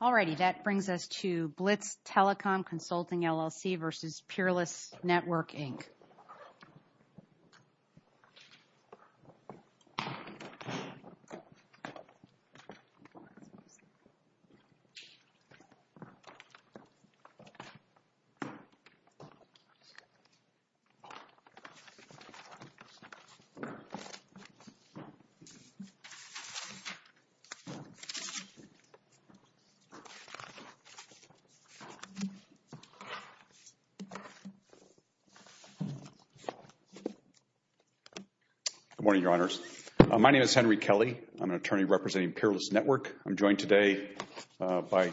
All righty, that brings us to Blitz Telecom Consulting, LLC, v. Peerless Network, Inc. Good morning, Your Honors. My name is Henry Kelly. I'm an attorney representing Peerless Network. I'm joined today by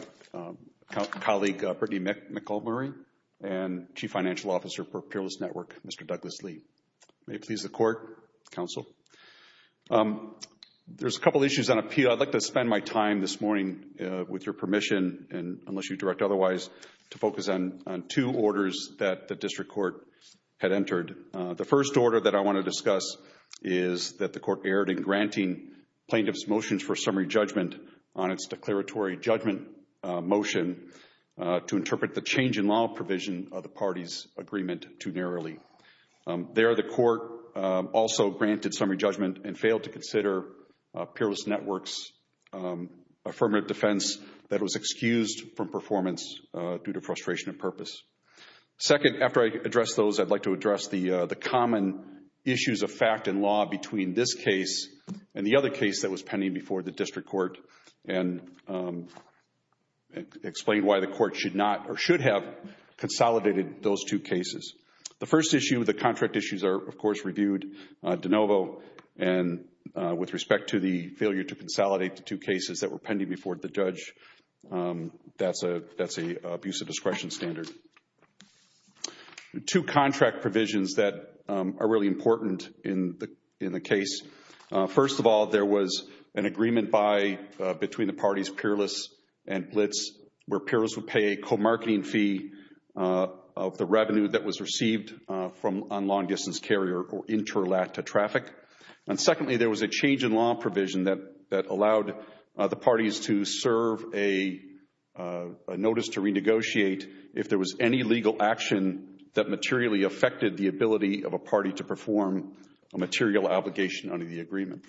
colleague Brittany McElmurray and Chief Financial Officer for Peerless Network, Mr. Douglas Lee. May it please the Court, Counsel. There's a couple issues on appeal. But I'd like to spend my time this morning, with your permission and unless you direct otherwise, to focus on two orders that the district court had entered. The first order that I want to discuss is that the court erred in granting plaintiff's motions for summary judgment on its declaratory judgment motion to interpret the change in law provision of the party's agreement too narrowly. There, the court also granted summary judgment and failed to consider Peerless Network's affirmative defense that was excused from performance due to frustration of purpose. Second, after I address those, I'd like to address the common issues of fact and law between this case and the other case that was pending before the district court and explain why the court should not or should have consolidated those two cases. The first issue, the contract issues are, of course, reviewed de novo and with respect to the failure to consolidate the two cases that were pending before the judge, that's an abuse of discretion standard. Two contract provisions that are really important in the case. First of all, there was an agreement between the parties Peerless and Blitz where Peerless would pay a co-marketing fee of the revenue that was received on long-distance carrier or interlatter traffic. And secondly, there was a change in law provision that allowed the parties to serve a notice to renegotiate if there was any legal action that materially affected the ability of a party to perform a material obligation under the agreement.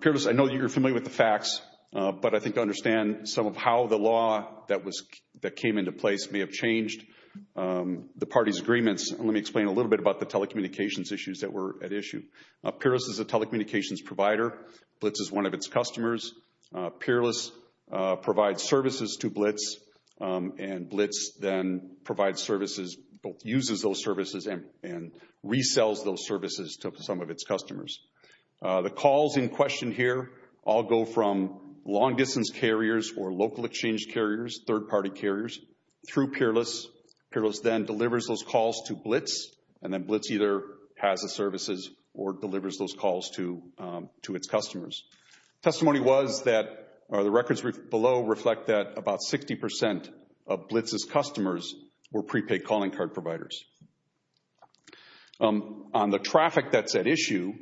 Peerless, I know you're familiar with the facts, but I think you understand some of how the law that came into place may have changed the parties' agreements. Let me explain a little bit about the telecommunications issues that were at issue. Peerless is a telecommunications provider. Blitz is one of its customers. Peerless provides services to Blitz and Blitz then provides services, uses those services and resells those services to some of its customers. The calls in question here all go from long-distance carriers or local exchange carriers, third-party carriers through Peerless. Peerless then delivers those calls to Blitz and then Blitz either has the services or delivers those calls to its customers. Testimony was that the records below reflect that about 60% of Blitz's customers were prepaid calling card providers. On the traffic that's at issue,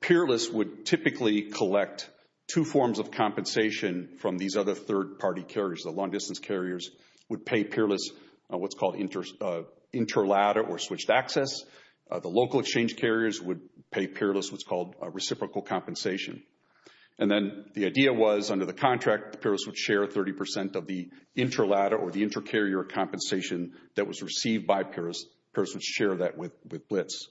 Peerless would typically collect two forms of compensation from these other third-party carriers. The long-distance carriers would pay Peerless what's called interladder or switched access. The local exchange carriers would pay Peerless what's called reciprocal compensation. And then the idea was under the contract, Peerless would share 30% of the interladder or the inter-carrier compensation that was received by Peerless, Peerless would share that with Blitz.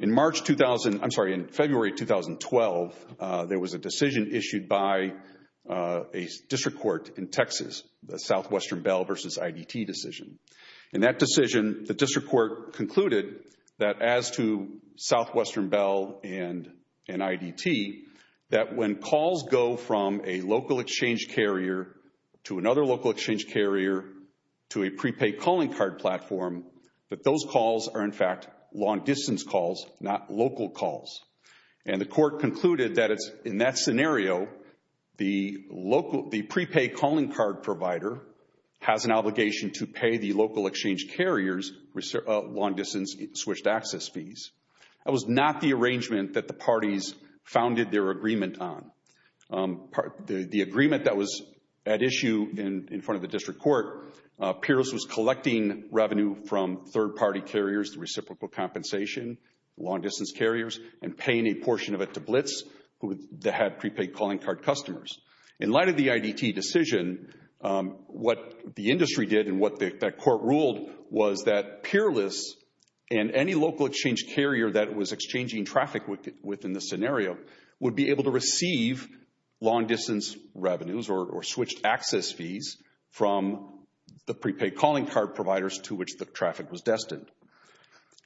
In March 2000, I'm sorry, in February 2012, there was a decision issued by a district court in Texas, the Southwestern Bell versus IDT decision. In that decision, the district court concluded that as to Southwestern Bell and IDT, that when calls go from a local exchange carrier to another local exchange carrier to a prepaid calling card platform, that those calls are in fact long-distance calls, not local calls. And the court concluded that in that scenario, the prepaid calling card provider has an obligation to pay the local exchange carriers long-distance switched access fees. That was not the arrangement that the parties founded their agreement on. The agreement that was at issue in front of the district court, Peerless was collecting revenue from third-party carriers, the reciprocal compensation, long-distance carriers, and paying a portion of it to Blitz, who had prepaid calling card customers. In light of the IDT decision, what the industry did and what that court ruled was that Peerless and any local exchange carrier that was exchanging traffic within the scenario would be able to receive long-distance revenues or switched access fees from the prepaid calling card providers to which the traffic was destined.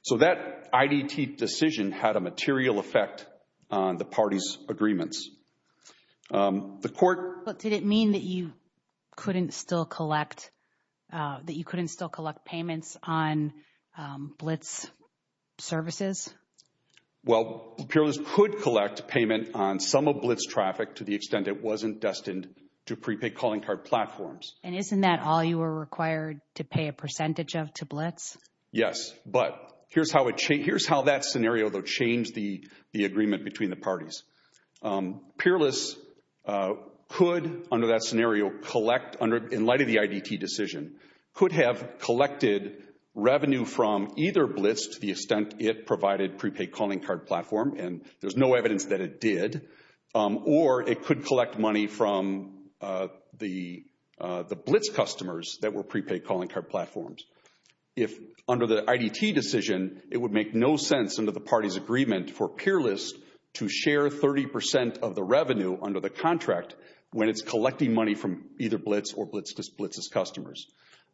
So that IDT decision had a material effect on the parties' agreements. The court- Blitz services? Well, Peerless could collect payment on some of Blitz traffic to the extent it wasn't destined to prepaid calling card platforms. And isn't that all you were required to pay a percentage of to Blitz? Yes, but here's how that scenario, though, changed the agreement between the parties. Peerless could, under that scenario, collect, in light of the IDT decision, could have collected revenue from either Blitz to the extent it provided prepaid calling card platform. And there's no evidence that it did. Or it could collect money from the Blitz customers that were prepaid calling card platforms. If under the IDT decision, it would make no sense under the parties' agreement for Peerless to share 30% of the revenue under the contract when it's collecting money from either Blitz or Blitz's customers.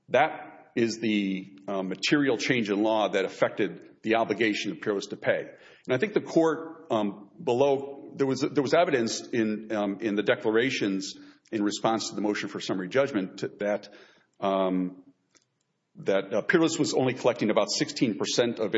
That is the material change in law that affected the obligation of Peerless to pay. And I think the court below, there was evidence in the declarations in response to the motion for summary judgment that Peerless was only collecting about 16% of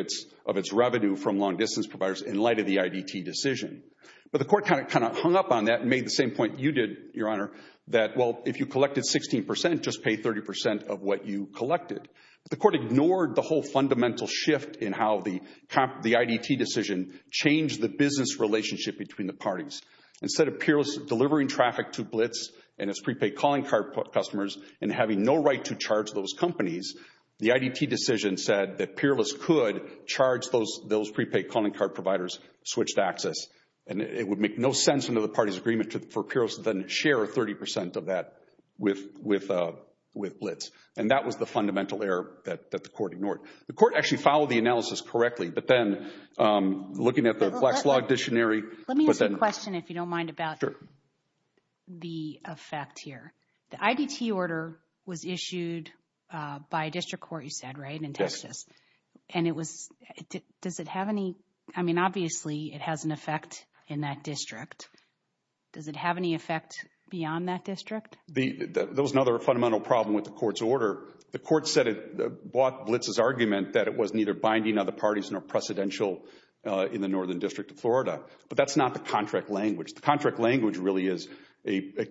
its revenue from long distance providers in light of the IDT decision. But the court kind of hung up on that and made the same point you did, Your Honor, that well, if you collected 16%, just pay 30% of what you collected. The court ignored the whole fundamental shift in how the IDT decision changed the business relationship between the parties. Instead of Peerless delivering traffic to Blitz and its prepaid calling card customers and having no right to charge those companies, the IDT decision said that Peerless could charge those prepaid calling card providers switched access. And it would make no sense under the parties' agreement for Peerless to then share 30% of that with Blitz. And that was the fundamental error that the court ignored. The court actually followed the analysis correctly, but then looking at the Flex Log Dictionary... Let me ask you a question, if you don't mind, about the effect here. The IDT order was issued by a district court, you said, right, in Texas. And it was... Does it have any... I mean, obviously, it has an effect in that district. Does it have any effect beyond that district? There was another fundamental problem with the court's order. The court said it bought Blitz's argument that it was neither binding other parties nor precedential in the Northern District of Florida. But that's not the contract language. The contract language really is a...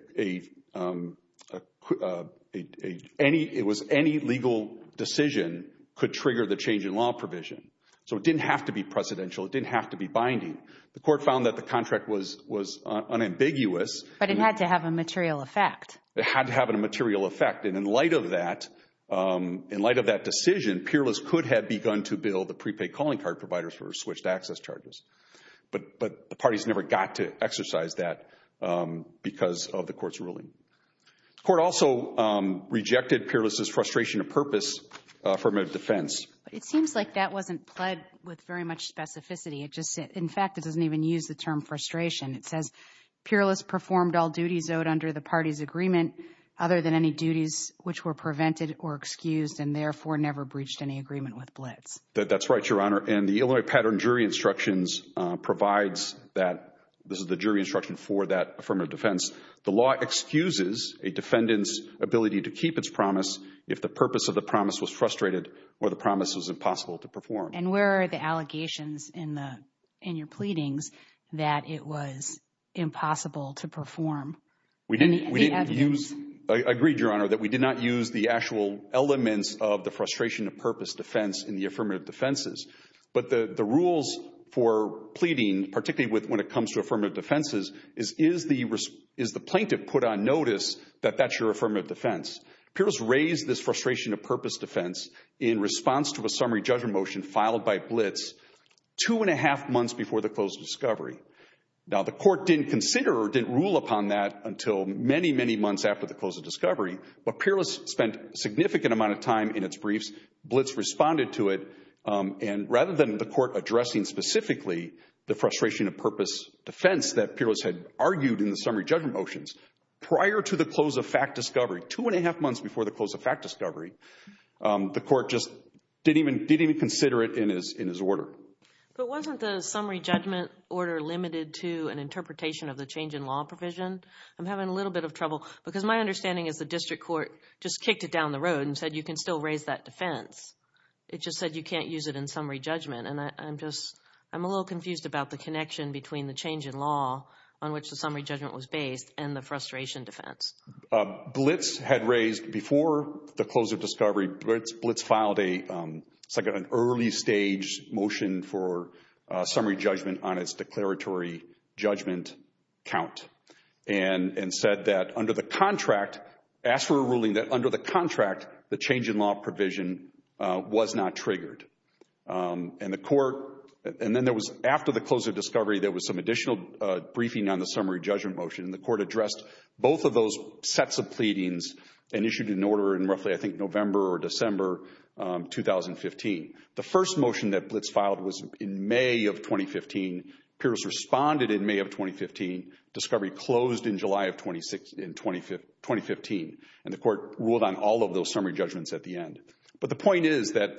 It was any legal decision could trigger the change in law provision. So it didn't have to be precedential, it didn't have to be binding. The court found that the contract was unambiguous. But it had to have a material effect. It had to have a material effect. And in light of that decision, Peerless could have begun to bill the prepaid calling card providers for switched access charges. But the parties never got to exercise that because of the court's ruling. The court also rejected Peerless's frustration of purpose from a defense. It seems like that wasn't pled with very much specificity. In fact, it doesn't even use the term frustration. It says, Peerless performed all duties owed under the party's agreement other than any duties which were prevented or excused and therefore never breached any agreement with Blitz. That's right, Your Honor. And the Illinois Pattern Jury Instructions provides that. This is the jury instruction for that affirmative defense. The law excuses a defendant's ability to keep its promise if the purpose of the promise was frustrated or the promise was impossible to perform. And where are the allegations in your pleadings that it was impossible to perform? We didn't use, I agree, Your Honor, that we did not use the actual elements of the frustration of purpose defense in the affirmative defenses. But the rules for pleading, particularly when it comes to affirmative defenses, is the plaintiff put on notice that that's your affirmative defense. Peerless raised this frustration of purpose defense in response to a summary judgment motion filed by Blitz two and a half months before the closed discovery. Now the court didn't consider or didn't rule upon that until many, many months after the closed discovery. But Peerless spent a significant amount of time in its briefs. Blitz responded to it. And rather than the court addressing specifically the frustration of purpose defense that Peerless had argued in the summary judgment motions prior to the close of fact discovery, two didn't even consider it in his order. But wasn't the summary judgment order limited to an interpretation of the change in law provision? I'm having a little bit of trouble because my understanding is the district court just kicked it down the road and said you can still raise that defense. It just said you can't use it in summary judgment. And I'm just, I'm a little confused about the connection between the change in law on which the summary judgment was based and the frustration defense. Blitz had raised before the close of discovery, Blitz filed a, it's like an early stage motion for summary judgment on its declaratory judgment count. And said that under the contract, asked for a ruling that under the contract the change in law provision was not triggered. And the court, and then there was after the close of discovery there was some additional briefing on the summary judgment motion. And the court addressed both of those sets of pleadings and issued an order in roughly I think November or December 2015. The first motion that Blitz filed was in May of 2015. Pierce responded in May of 2015. Discovery closed in July of 2015. And the court ruled on all of those summary judgments at the end. But the point is that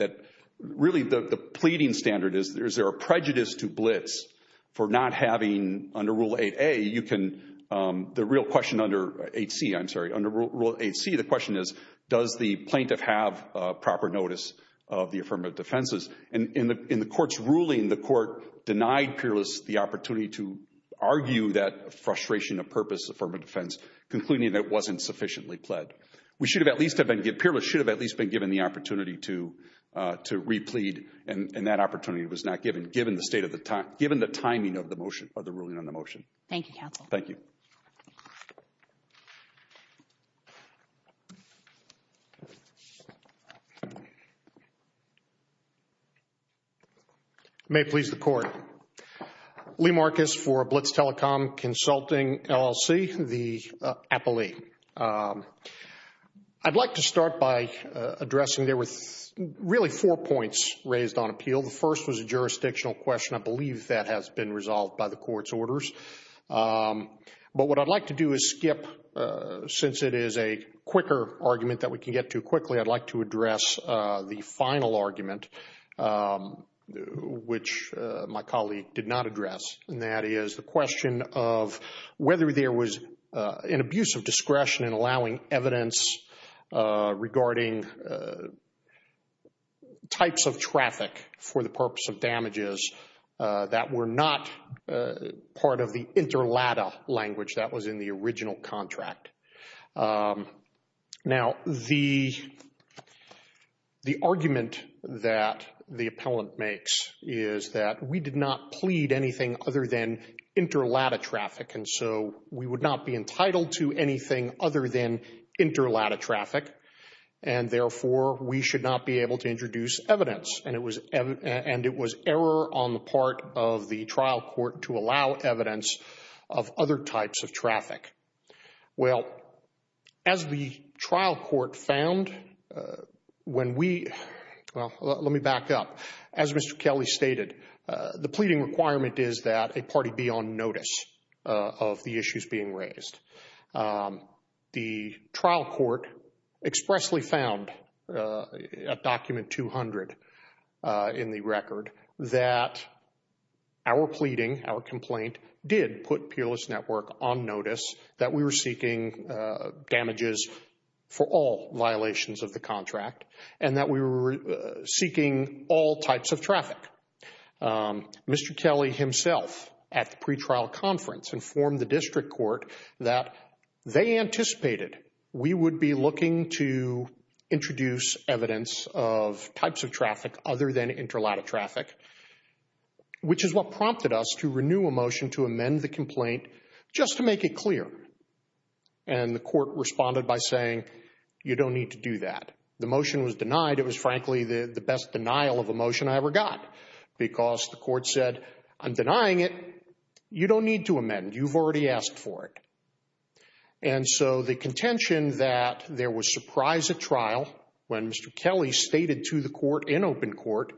really the pleading standard is there a prejudice to Blitz for not having, under Rule 8a, you can, the real question under 8c, I'm sorry, under Rule 8c the question is does the plaintiff have proper notice of the affirmative defenses? And in the court's ruling the court denied Peerless the opportunity to argue that frustration of purpose affirmative defense, concluding that it wasn't sufficiently pled. We should have at least, Peerless should have at least been given the opportunity to replead and that opportunity was not given, given the timing of the ruling on the motion. Thank you, counsel. Thank you. May it please the court. Lee Marcus for Blitz Telecom Consulting, LLC, the appellee. I'd like to start by addressing, there were really four points raised on appeal. The first was a jurisdictional question. I believe that has been resolved by the court's orders. But what I'd like to do is skip, since it is a quicker argument that we can get to quickly, I'd like to address the final argument, which my colleague did not address, and that is the question of whether there was an abuse of discretion in allowing evidence regarding types of traffic for the purpose of damages that were not part of the interlatta language that was in the original contract. Now, the argument that the appellant makes is that we did not plead anything other than interlatta traffic, and so we would not be entitled to anything other than interlatta traffic, and therefore we should not be able to introduce evidence, and it was error on the part of the trial court to allow evidence of other types of traffic. Well, as the trial court found, when we, well, let me back up. As Mr. Kelly stated, the pleading requirement is that a party be on notice of the issues being raised. The trial court expressly found at document 200 in the record that our pleading, our complaint, did put Peerless Network on notice that we were seeking damages for all violations of the contract and that we were seeking all types of traffic. Mr. Kelly himself at the pretrial conference informed the district court that they anticipated we would be looking to introduce evidence of types of traffic other than interlatta traffic, which is what prompted us to renew a motion to amend the complaint just to make it clear, and the court responded by saying, you don't need to do that. The motion was denied. It was frankly the best denial of a motion I ever got because the court said, I'm denying it. You don't need to amend. You've already asked for it, and so the contention that there was surprise at trial when Mr. Kelly stated to the court in open court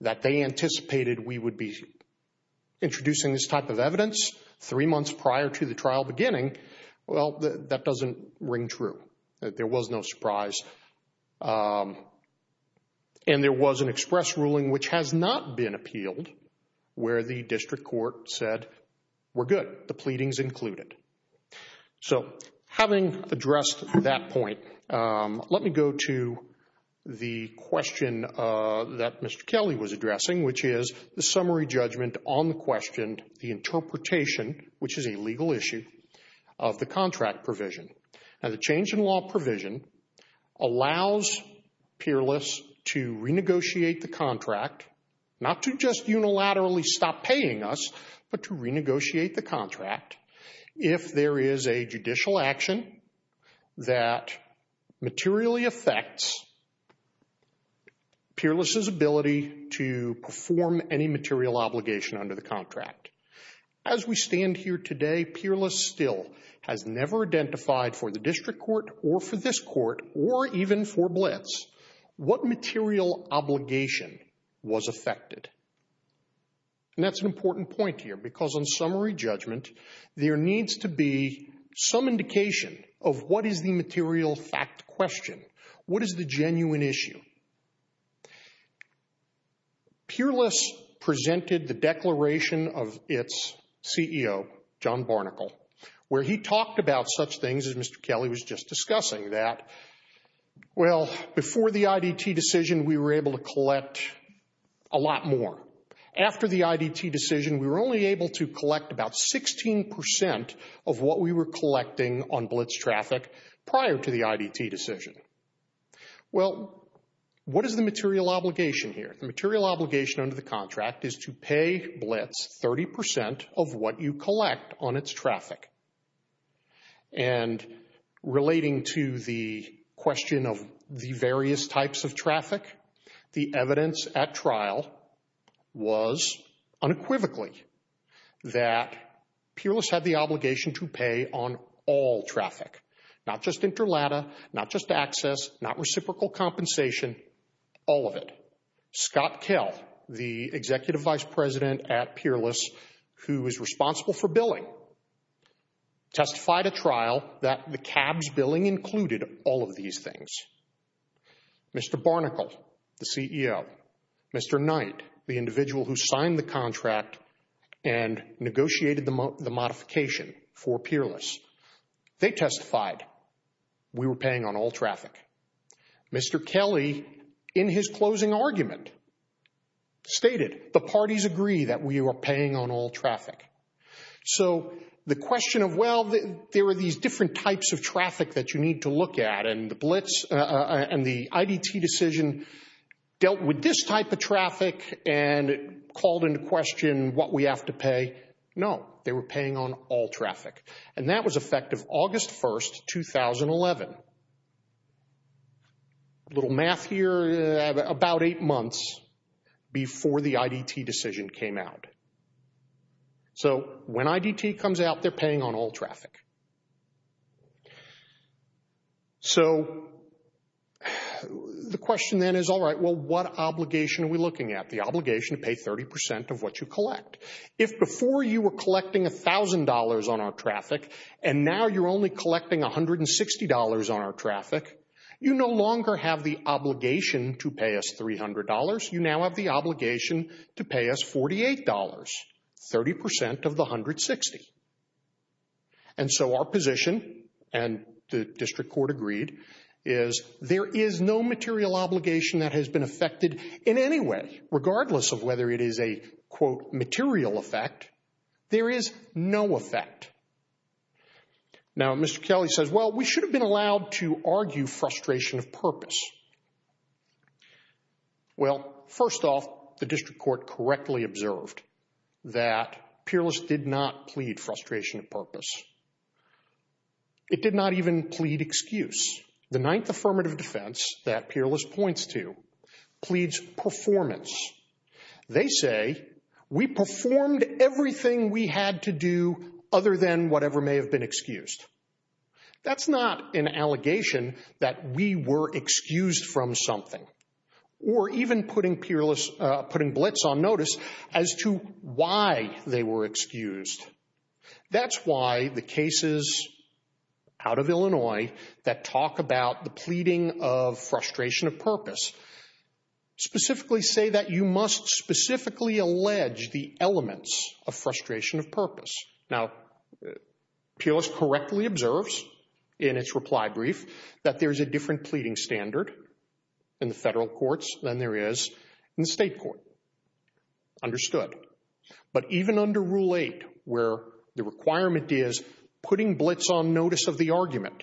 that they anticipated we would be introducing this type of evidence three months prior to the trial beginning, well, that doesn't ring true. There was no surprise, and there was an express ruling which has not been appealed where the district court said, we're good. The pleading's included. So, having addressed that point, let me go to the question that Mr. Kelly was addressing, which is the summary judgment on the question, the interpretation, which is a legal issue, of the contract provision. Now, the change in law provision allows peerless to renegotiate the contract, not to just unilaterally stop paying us, but to renegotiate the contract if there is a judicial action that materially affects peerless' ability to perform any material obligation under the contract. As we stand here today, peerless still has never identified for the district court or for this court or even for Blitz what material obligation was affected. And that's an important point here, because on summary judgment, there needs to be some indication of what is the material fact question. What is the genuine issue? Peerless presented the declaration of its CEO, John Barnicle, where he talked about such things as Mr. Kelly was just discussing, that, well, before the IDT decision, we were able to collect a lot more. After the IDT decision, we were only able to collect about 16% of what we were collecting on Blitz traffic prior to the IDT decision. Well, what is the material obligation here? The material obligation under the contract is to pay Blitz 30% of what you collect on its traffic. And relating to the question of the various types of traffic, the evidence at trial was unequivocally that peerless had the obligation to pay on all traffic, not just interlata, not just access, not reciprocal compensation, all of it. Scott Kell, the Executive Vice President at Peerless, who is responsible for billing, testified at trial that the CAB's billing included all of these things. Mr. Barnicle, the CEO, Mr. Knight, the individual who signed the contract and negotiated the modification for Peerless, they testified we were paying on all traffic. Mr. Kelly, in his closing argument, stated the parties agree that we were paying on all traffic. So the question of, well, there are these different types of traffic that you need to look at, and the Blitz and the IDT decision dealt with this type of traffic and called into question what we have to pay. No, they were paying on all traffic. And that was effective August 1, 2011. A little math here, about eight months before the IDT decision came out. So when IDT comes out, they're paying on all traffic. So the question then is, all right, well, what obligation are we looking at? The obligation to pay 30% of what you collect. If before you were collecting $1,000 on our traffic and now you're only collecting $160 on our traffic, you no longer have the obligation to pay us $300. You now have the obligation to pay us $48, 30% of the $160. And so our position, and the district court agreed, is there is no material obligation that has been affected in any way, regardless of whether it is a, quote, material effect. There is no effect. Now, Mr. Kelly says, well, we should have been allowed to argue frustration of purpose. Well, first off, the district court correctly observed that Peerless did not plead frustration of purpose. It did not even plead excuse. The ninth affirmative defense that Peerless points to pleads performance. They say, we performed everything we had to do other than whatever may have been excused. That's not an allegation that we were excused from something, or even putting Peerless, putting Blitz on notice as to why they were excused. That's why the cases out of Illinois that talk about the pleading of frustration of purpose specifically say that you must specifically allege the elements of frustration of purpose. Now, Peerless correctly observes in its reply brief that there is a different pleading standard in the federal courts than there is in the state court. Understood. But even under Rule 8, where the requirement is putting Blitz on notice of the argument,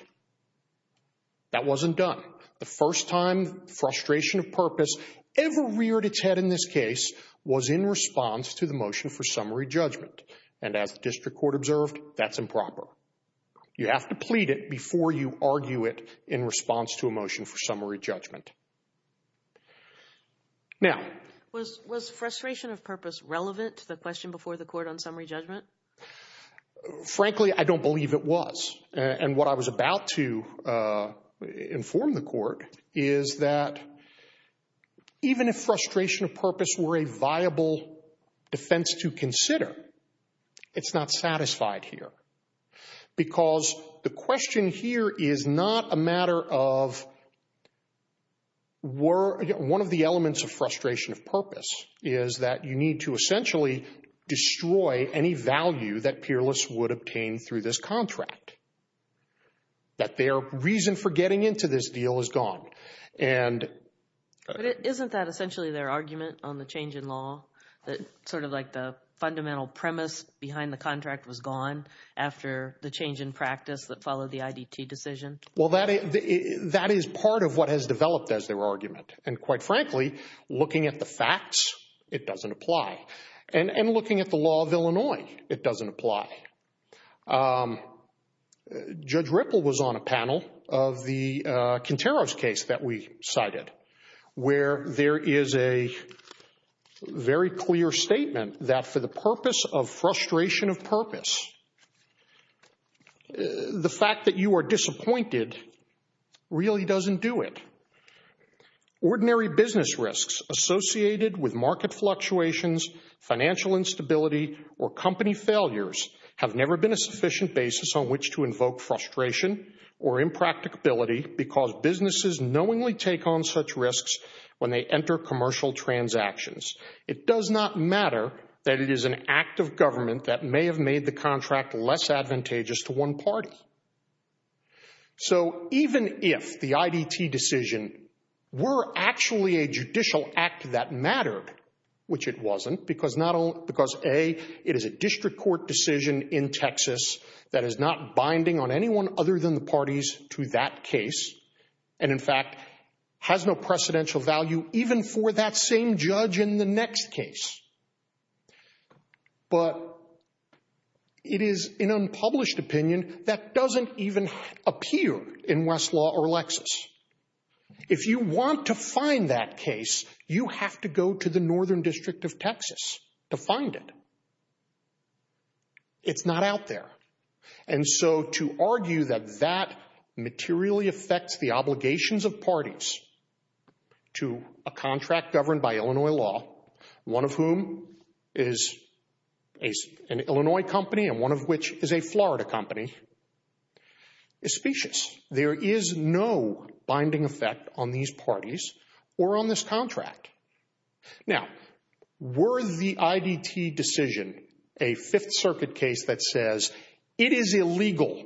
that wasn't done. The first time frustration of purpose ever reared its head in this case was in response to the motion for summary judgment. And as the district court observed, that's improper. You have to plead it before you argue it in response to a motion for summary judgment. Now... Was frustration of purpose relevant to the question before the court on summary judgment? Frankly, I don't believe it was. And what I was about to inform the court is that even if frustration of purpose were a viable defense to consider, it's not satisfied here. Because the question here is not a matter of were one of the elements of frustration of purpose is that you need to essentially destroy any value that Peerless would obtain through this contract. That their reason for getting into this deal is gone. And... But isn't that essentially their argument on the change in law? Sort of like the fundamental premise behind the contract was gone after the change in practice that followed the IDT decision? Well, that is part of what has developed as their argument. And quite frankly, looking at the facts, it doesn't apply. And looking at the law of Illinois, it doesn't apply. Judge Ripple was on a panel of the Quintero's case that we cited where there is a very clear statement that for the purpose of frustration of purpose, the fact that you are disappointed really doesn't do it. Ordinary business risks associated with market fluctuations, financial instability, or company failures have never been a sufficient basis on which to invoke frustration or impracticability because businesses knowingly take on such risks when they enter commercial transactions. It does not matter that it is an act of government that may have made the contract less advantageous to one party. So even if the IDT decision were actually a judicial act that mattered, which it wasn't, because A, it is a district court decision in Texas that is not binding on anyone other than the parties to that case, and in fact has no precedential value even for that same judge in the next case. But it is an unpublished opinion that doesn't even appear in Westlaw or Lexis. If you want to find that case, you have to go to the Northern District of Texas to find it. It's not out there. And so to argue that that materially affects the obligations of parties to a contract governed by Illinois law, one of whom is an Illinois company and one of which is a Florida company, is specious. There is no binding effect on these parties or on this contract. Now, were the IDT decision a Fifth Circuit case that says it is illegal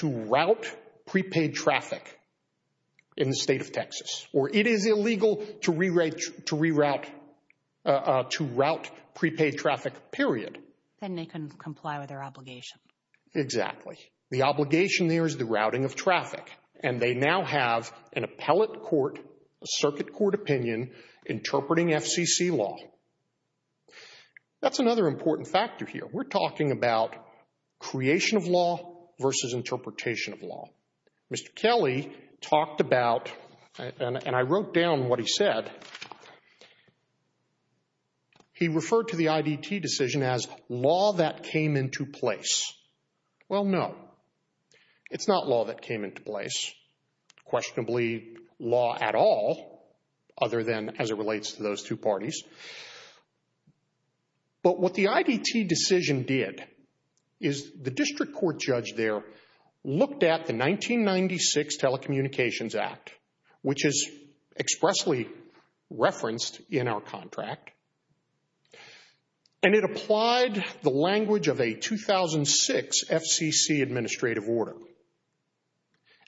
to route prepaid traffic in the state of Texas, or it is illegal to route prepaid traffic, period. Then they can comply with their obligation. Exactly. The obligation there is the routing of traffic. And they now have an appellate court, a circuit court opinion, interpreting FCC law. That's another important factor here. We're talking about creation of law versus interpretation of law. Mr. Kelly talked about, and I wrote down what he said, he referred to the IDT decision as law that came into place. Well, no. It's not law that came into place, questionably law at all, other than as it relates to those two parties. But what the IDT decision did is the district court judge there looked at the 1996 Telecommunications Act, which is expressly referenced in our contract, and it applied the language of a 2006 FCC administrative order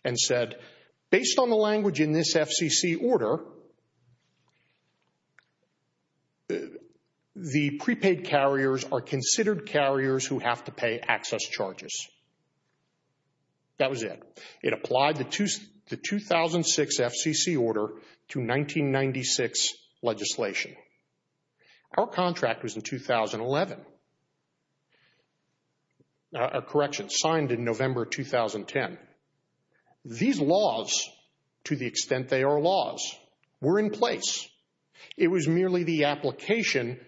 and said, based on the language in this FCC order, the prepaid carriers are considered carriers who have to pay access charges. That was it. It applied the 2006 FCC order to 1996 legislation. Our contract was in 2011. Correction, signed in November 2010. These laws, to the extent they are laws, were in place. It was merely the application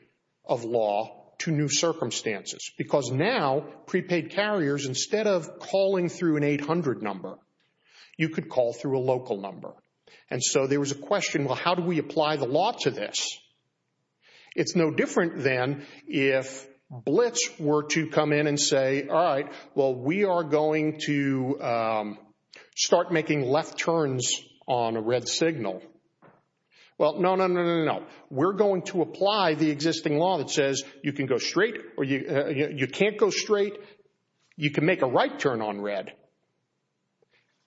of law to new circumstances because now prepaid carriers, instead of calling through an 800 number, you could call through a local number. And so there was a question, well, how do we apply the law to this? It's no different than if Blitz were to come in and say, all right, well, we are going to start making left turns on a red signal. Well, no, no, no, no, no, no. We're going to apply the existing law that says you can go straight, you can't go straight, you can make a right turn on red.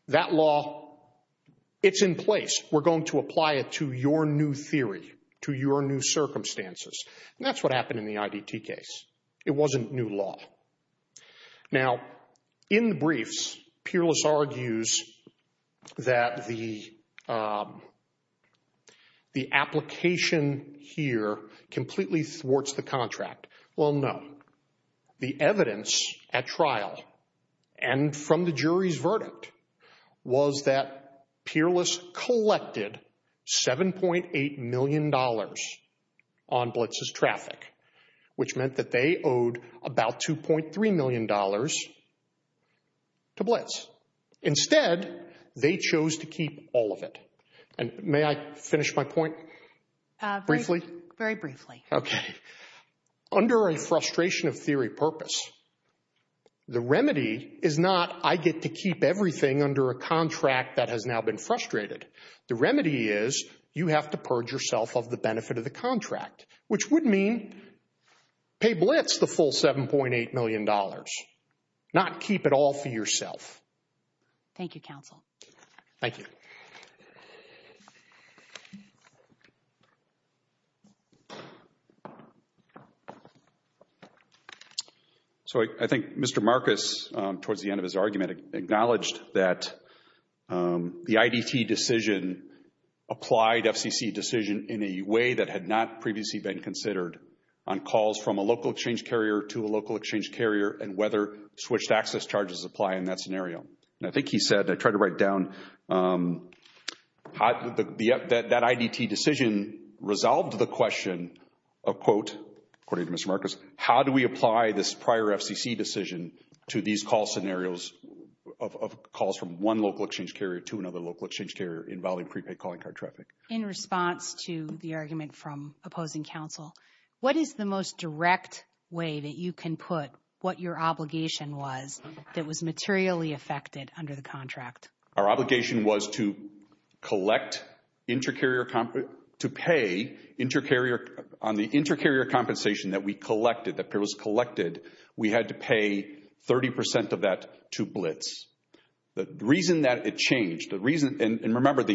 That law, it's in place. We're going to apply it to your new theory, to your new circumstances. And that's what happened in the IDT case. It wasn't new law. Now, in the briefs, Peerless argues that the application here completely thwarts the contract. Well, no. The evidence at trial and from the jury's verdict was that Peerless collected $7.8 million on Blitz's traffic, which meant that they owed about $2.3 million to Blitz. Instead, they chose to keep all of it. And may I finish my point briefly? Very briefly. Okay. Under a frustration of theory purpose, the remedy is not I get to keep everything under a contract that has now been frustrated. The remedy is you have to purge yourself of the benefit of the contract, which would mean pay Blitz the full $7.8 million, not keep it all for yourself. Thank you, counsel. Thank you. So I think Mr. Marcus, towards the end of his argument, acknowledged that the IDT decision applied FCC decision in a way that had not previously been considered on calls from a local exchange carrier to a local exchange carrier and whether switched access charges apply in that scenario. And I think he said, I tried to write down, that IDT decision resolved the question, a quote, according to Mr. Marcus, how do we apply this prior FCC decision to these call scenarios of calls from one local exchange carrier to another local exchange carrier involving prepaid calling card traffic? In response to the argument from opposing counsel, what is the most direct way that you can put what your obligation was that was materially affected under the contract? Our obligation was to collect inter-carrier, to pay inter-carrier, on the inter-carrier compensation that we collected, that peerless collected, we had to pay 30% of that to Blitz. The reason that it changed, the reason, and remember,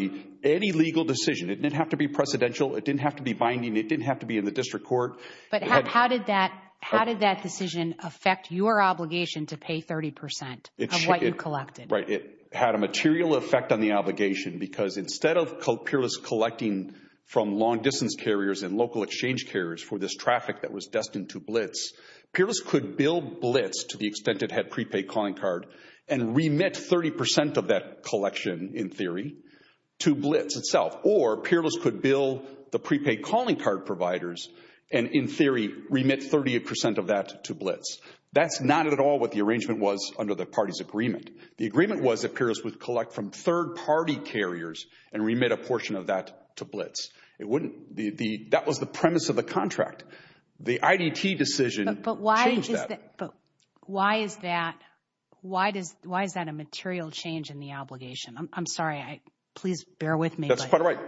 any legal decision, it didn't have to be precedential, it didn't have to be binding, it didn't have to be in the district court. But how did that decision affect your obligation to pay 30% of what you collected? Right, it had a material effect on the obligation because instead of peerless collecting from long-distance carriers and local exchange carriers for this traffic that was destined to Blitz, peerless could bill Blitz to the extent it had prepaid calling card and remit 30% of that collection, in theory, to Blitz itself. Or peerless could bill the prepaid calling card providers and, in theory, remit 30% of that to Blitz. That's not at all what the arrangement was under the party's agreement. The agreement was that peerless would collect from third-party carriers and remit a portion of that to Blitz. It wouldn't, that was the premise of the contract. The IDT decision changed that. But why is that, why is that a material change in the obligation? I'm sorry, please bear with me. That's quite right.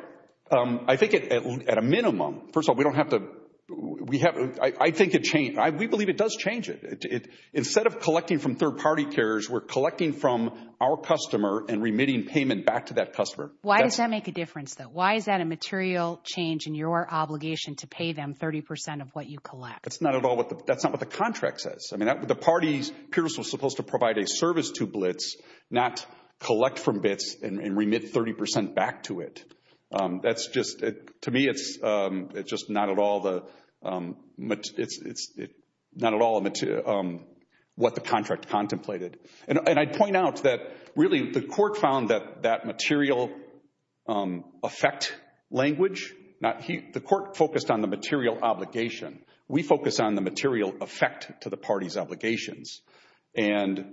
I think at a minimum, first of all, we don't have to, I think it changed, we believe it does change it. Instead of collecting from third-party carriers, we're collecting from our customer and remitting payment back to that customer. Why does that make a difference, though? Why is that a material change in your obligation to pay them 30% of what you collect? That's not at all what the contract says. I mean, the parties, peerless was supposed to provide a service to Blitz, not collect from Blitz and remit 30% back to it. That's just, to me, it's just not at all the, it's not at all what the contract contemplated. And I'd point out that, really, the court found that that material effect language, the court focused on the material obligation. We focus on the material effect to the party's obligations. And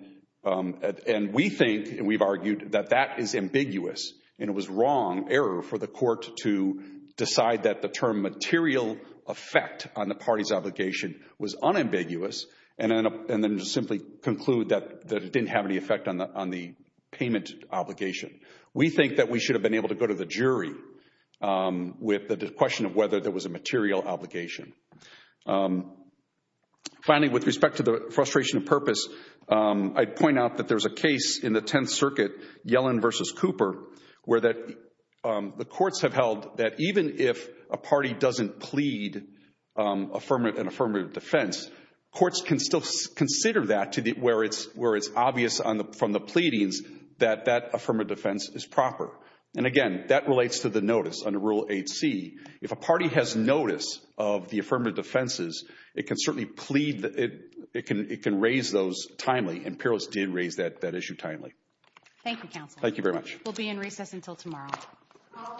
we think, and we've argued, that that is ambiguous, and it was wrong error for the court to decide that the term material effect on the party's obligation was unambiguous, and then to simply conclude that it didn't have any effect on the payment obligation. We think that we should have been able to go to the jury with the question of whether there was a material obligation. Finally, with respect to the frustration of purpose, I'd point out that there's a case in the Tenth Circuit, Yellen v. Cooper, where the courts have held that even if a party doesn't plead an affirmative defense, courts can still consider that where it's obvious from the pleadings that that affirmative defense is proper. And again, that relates to the notice under Rule 8c. If a party has notice of the affirmative defenses, it can certainly plead, it can raise those timely, and PIROS did raise that issue timely. Thank you, counsel. Thank you very much. We'll be in recess until tomorrow. All rise. Thank you.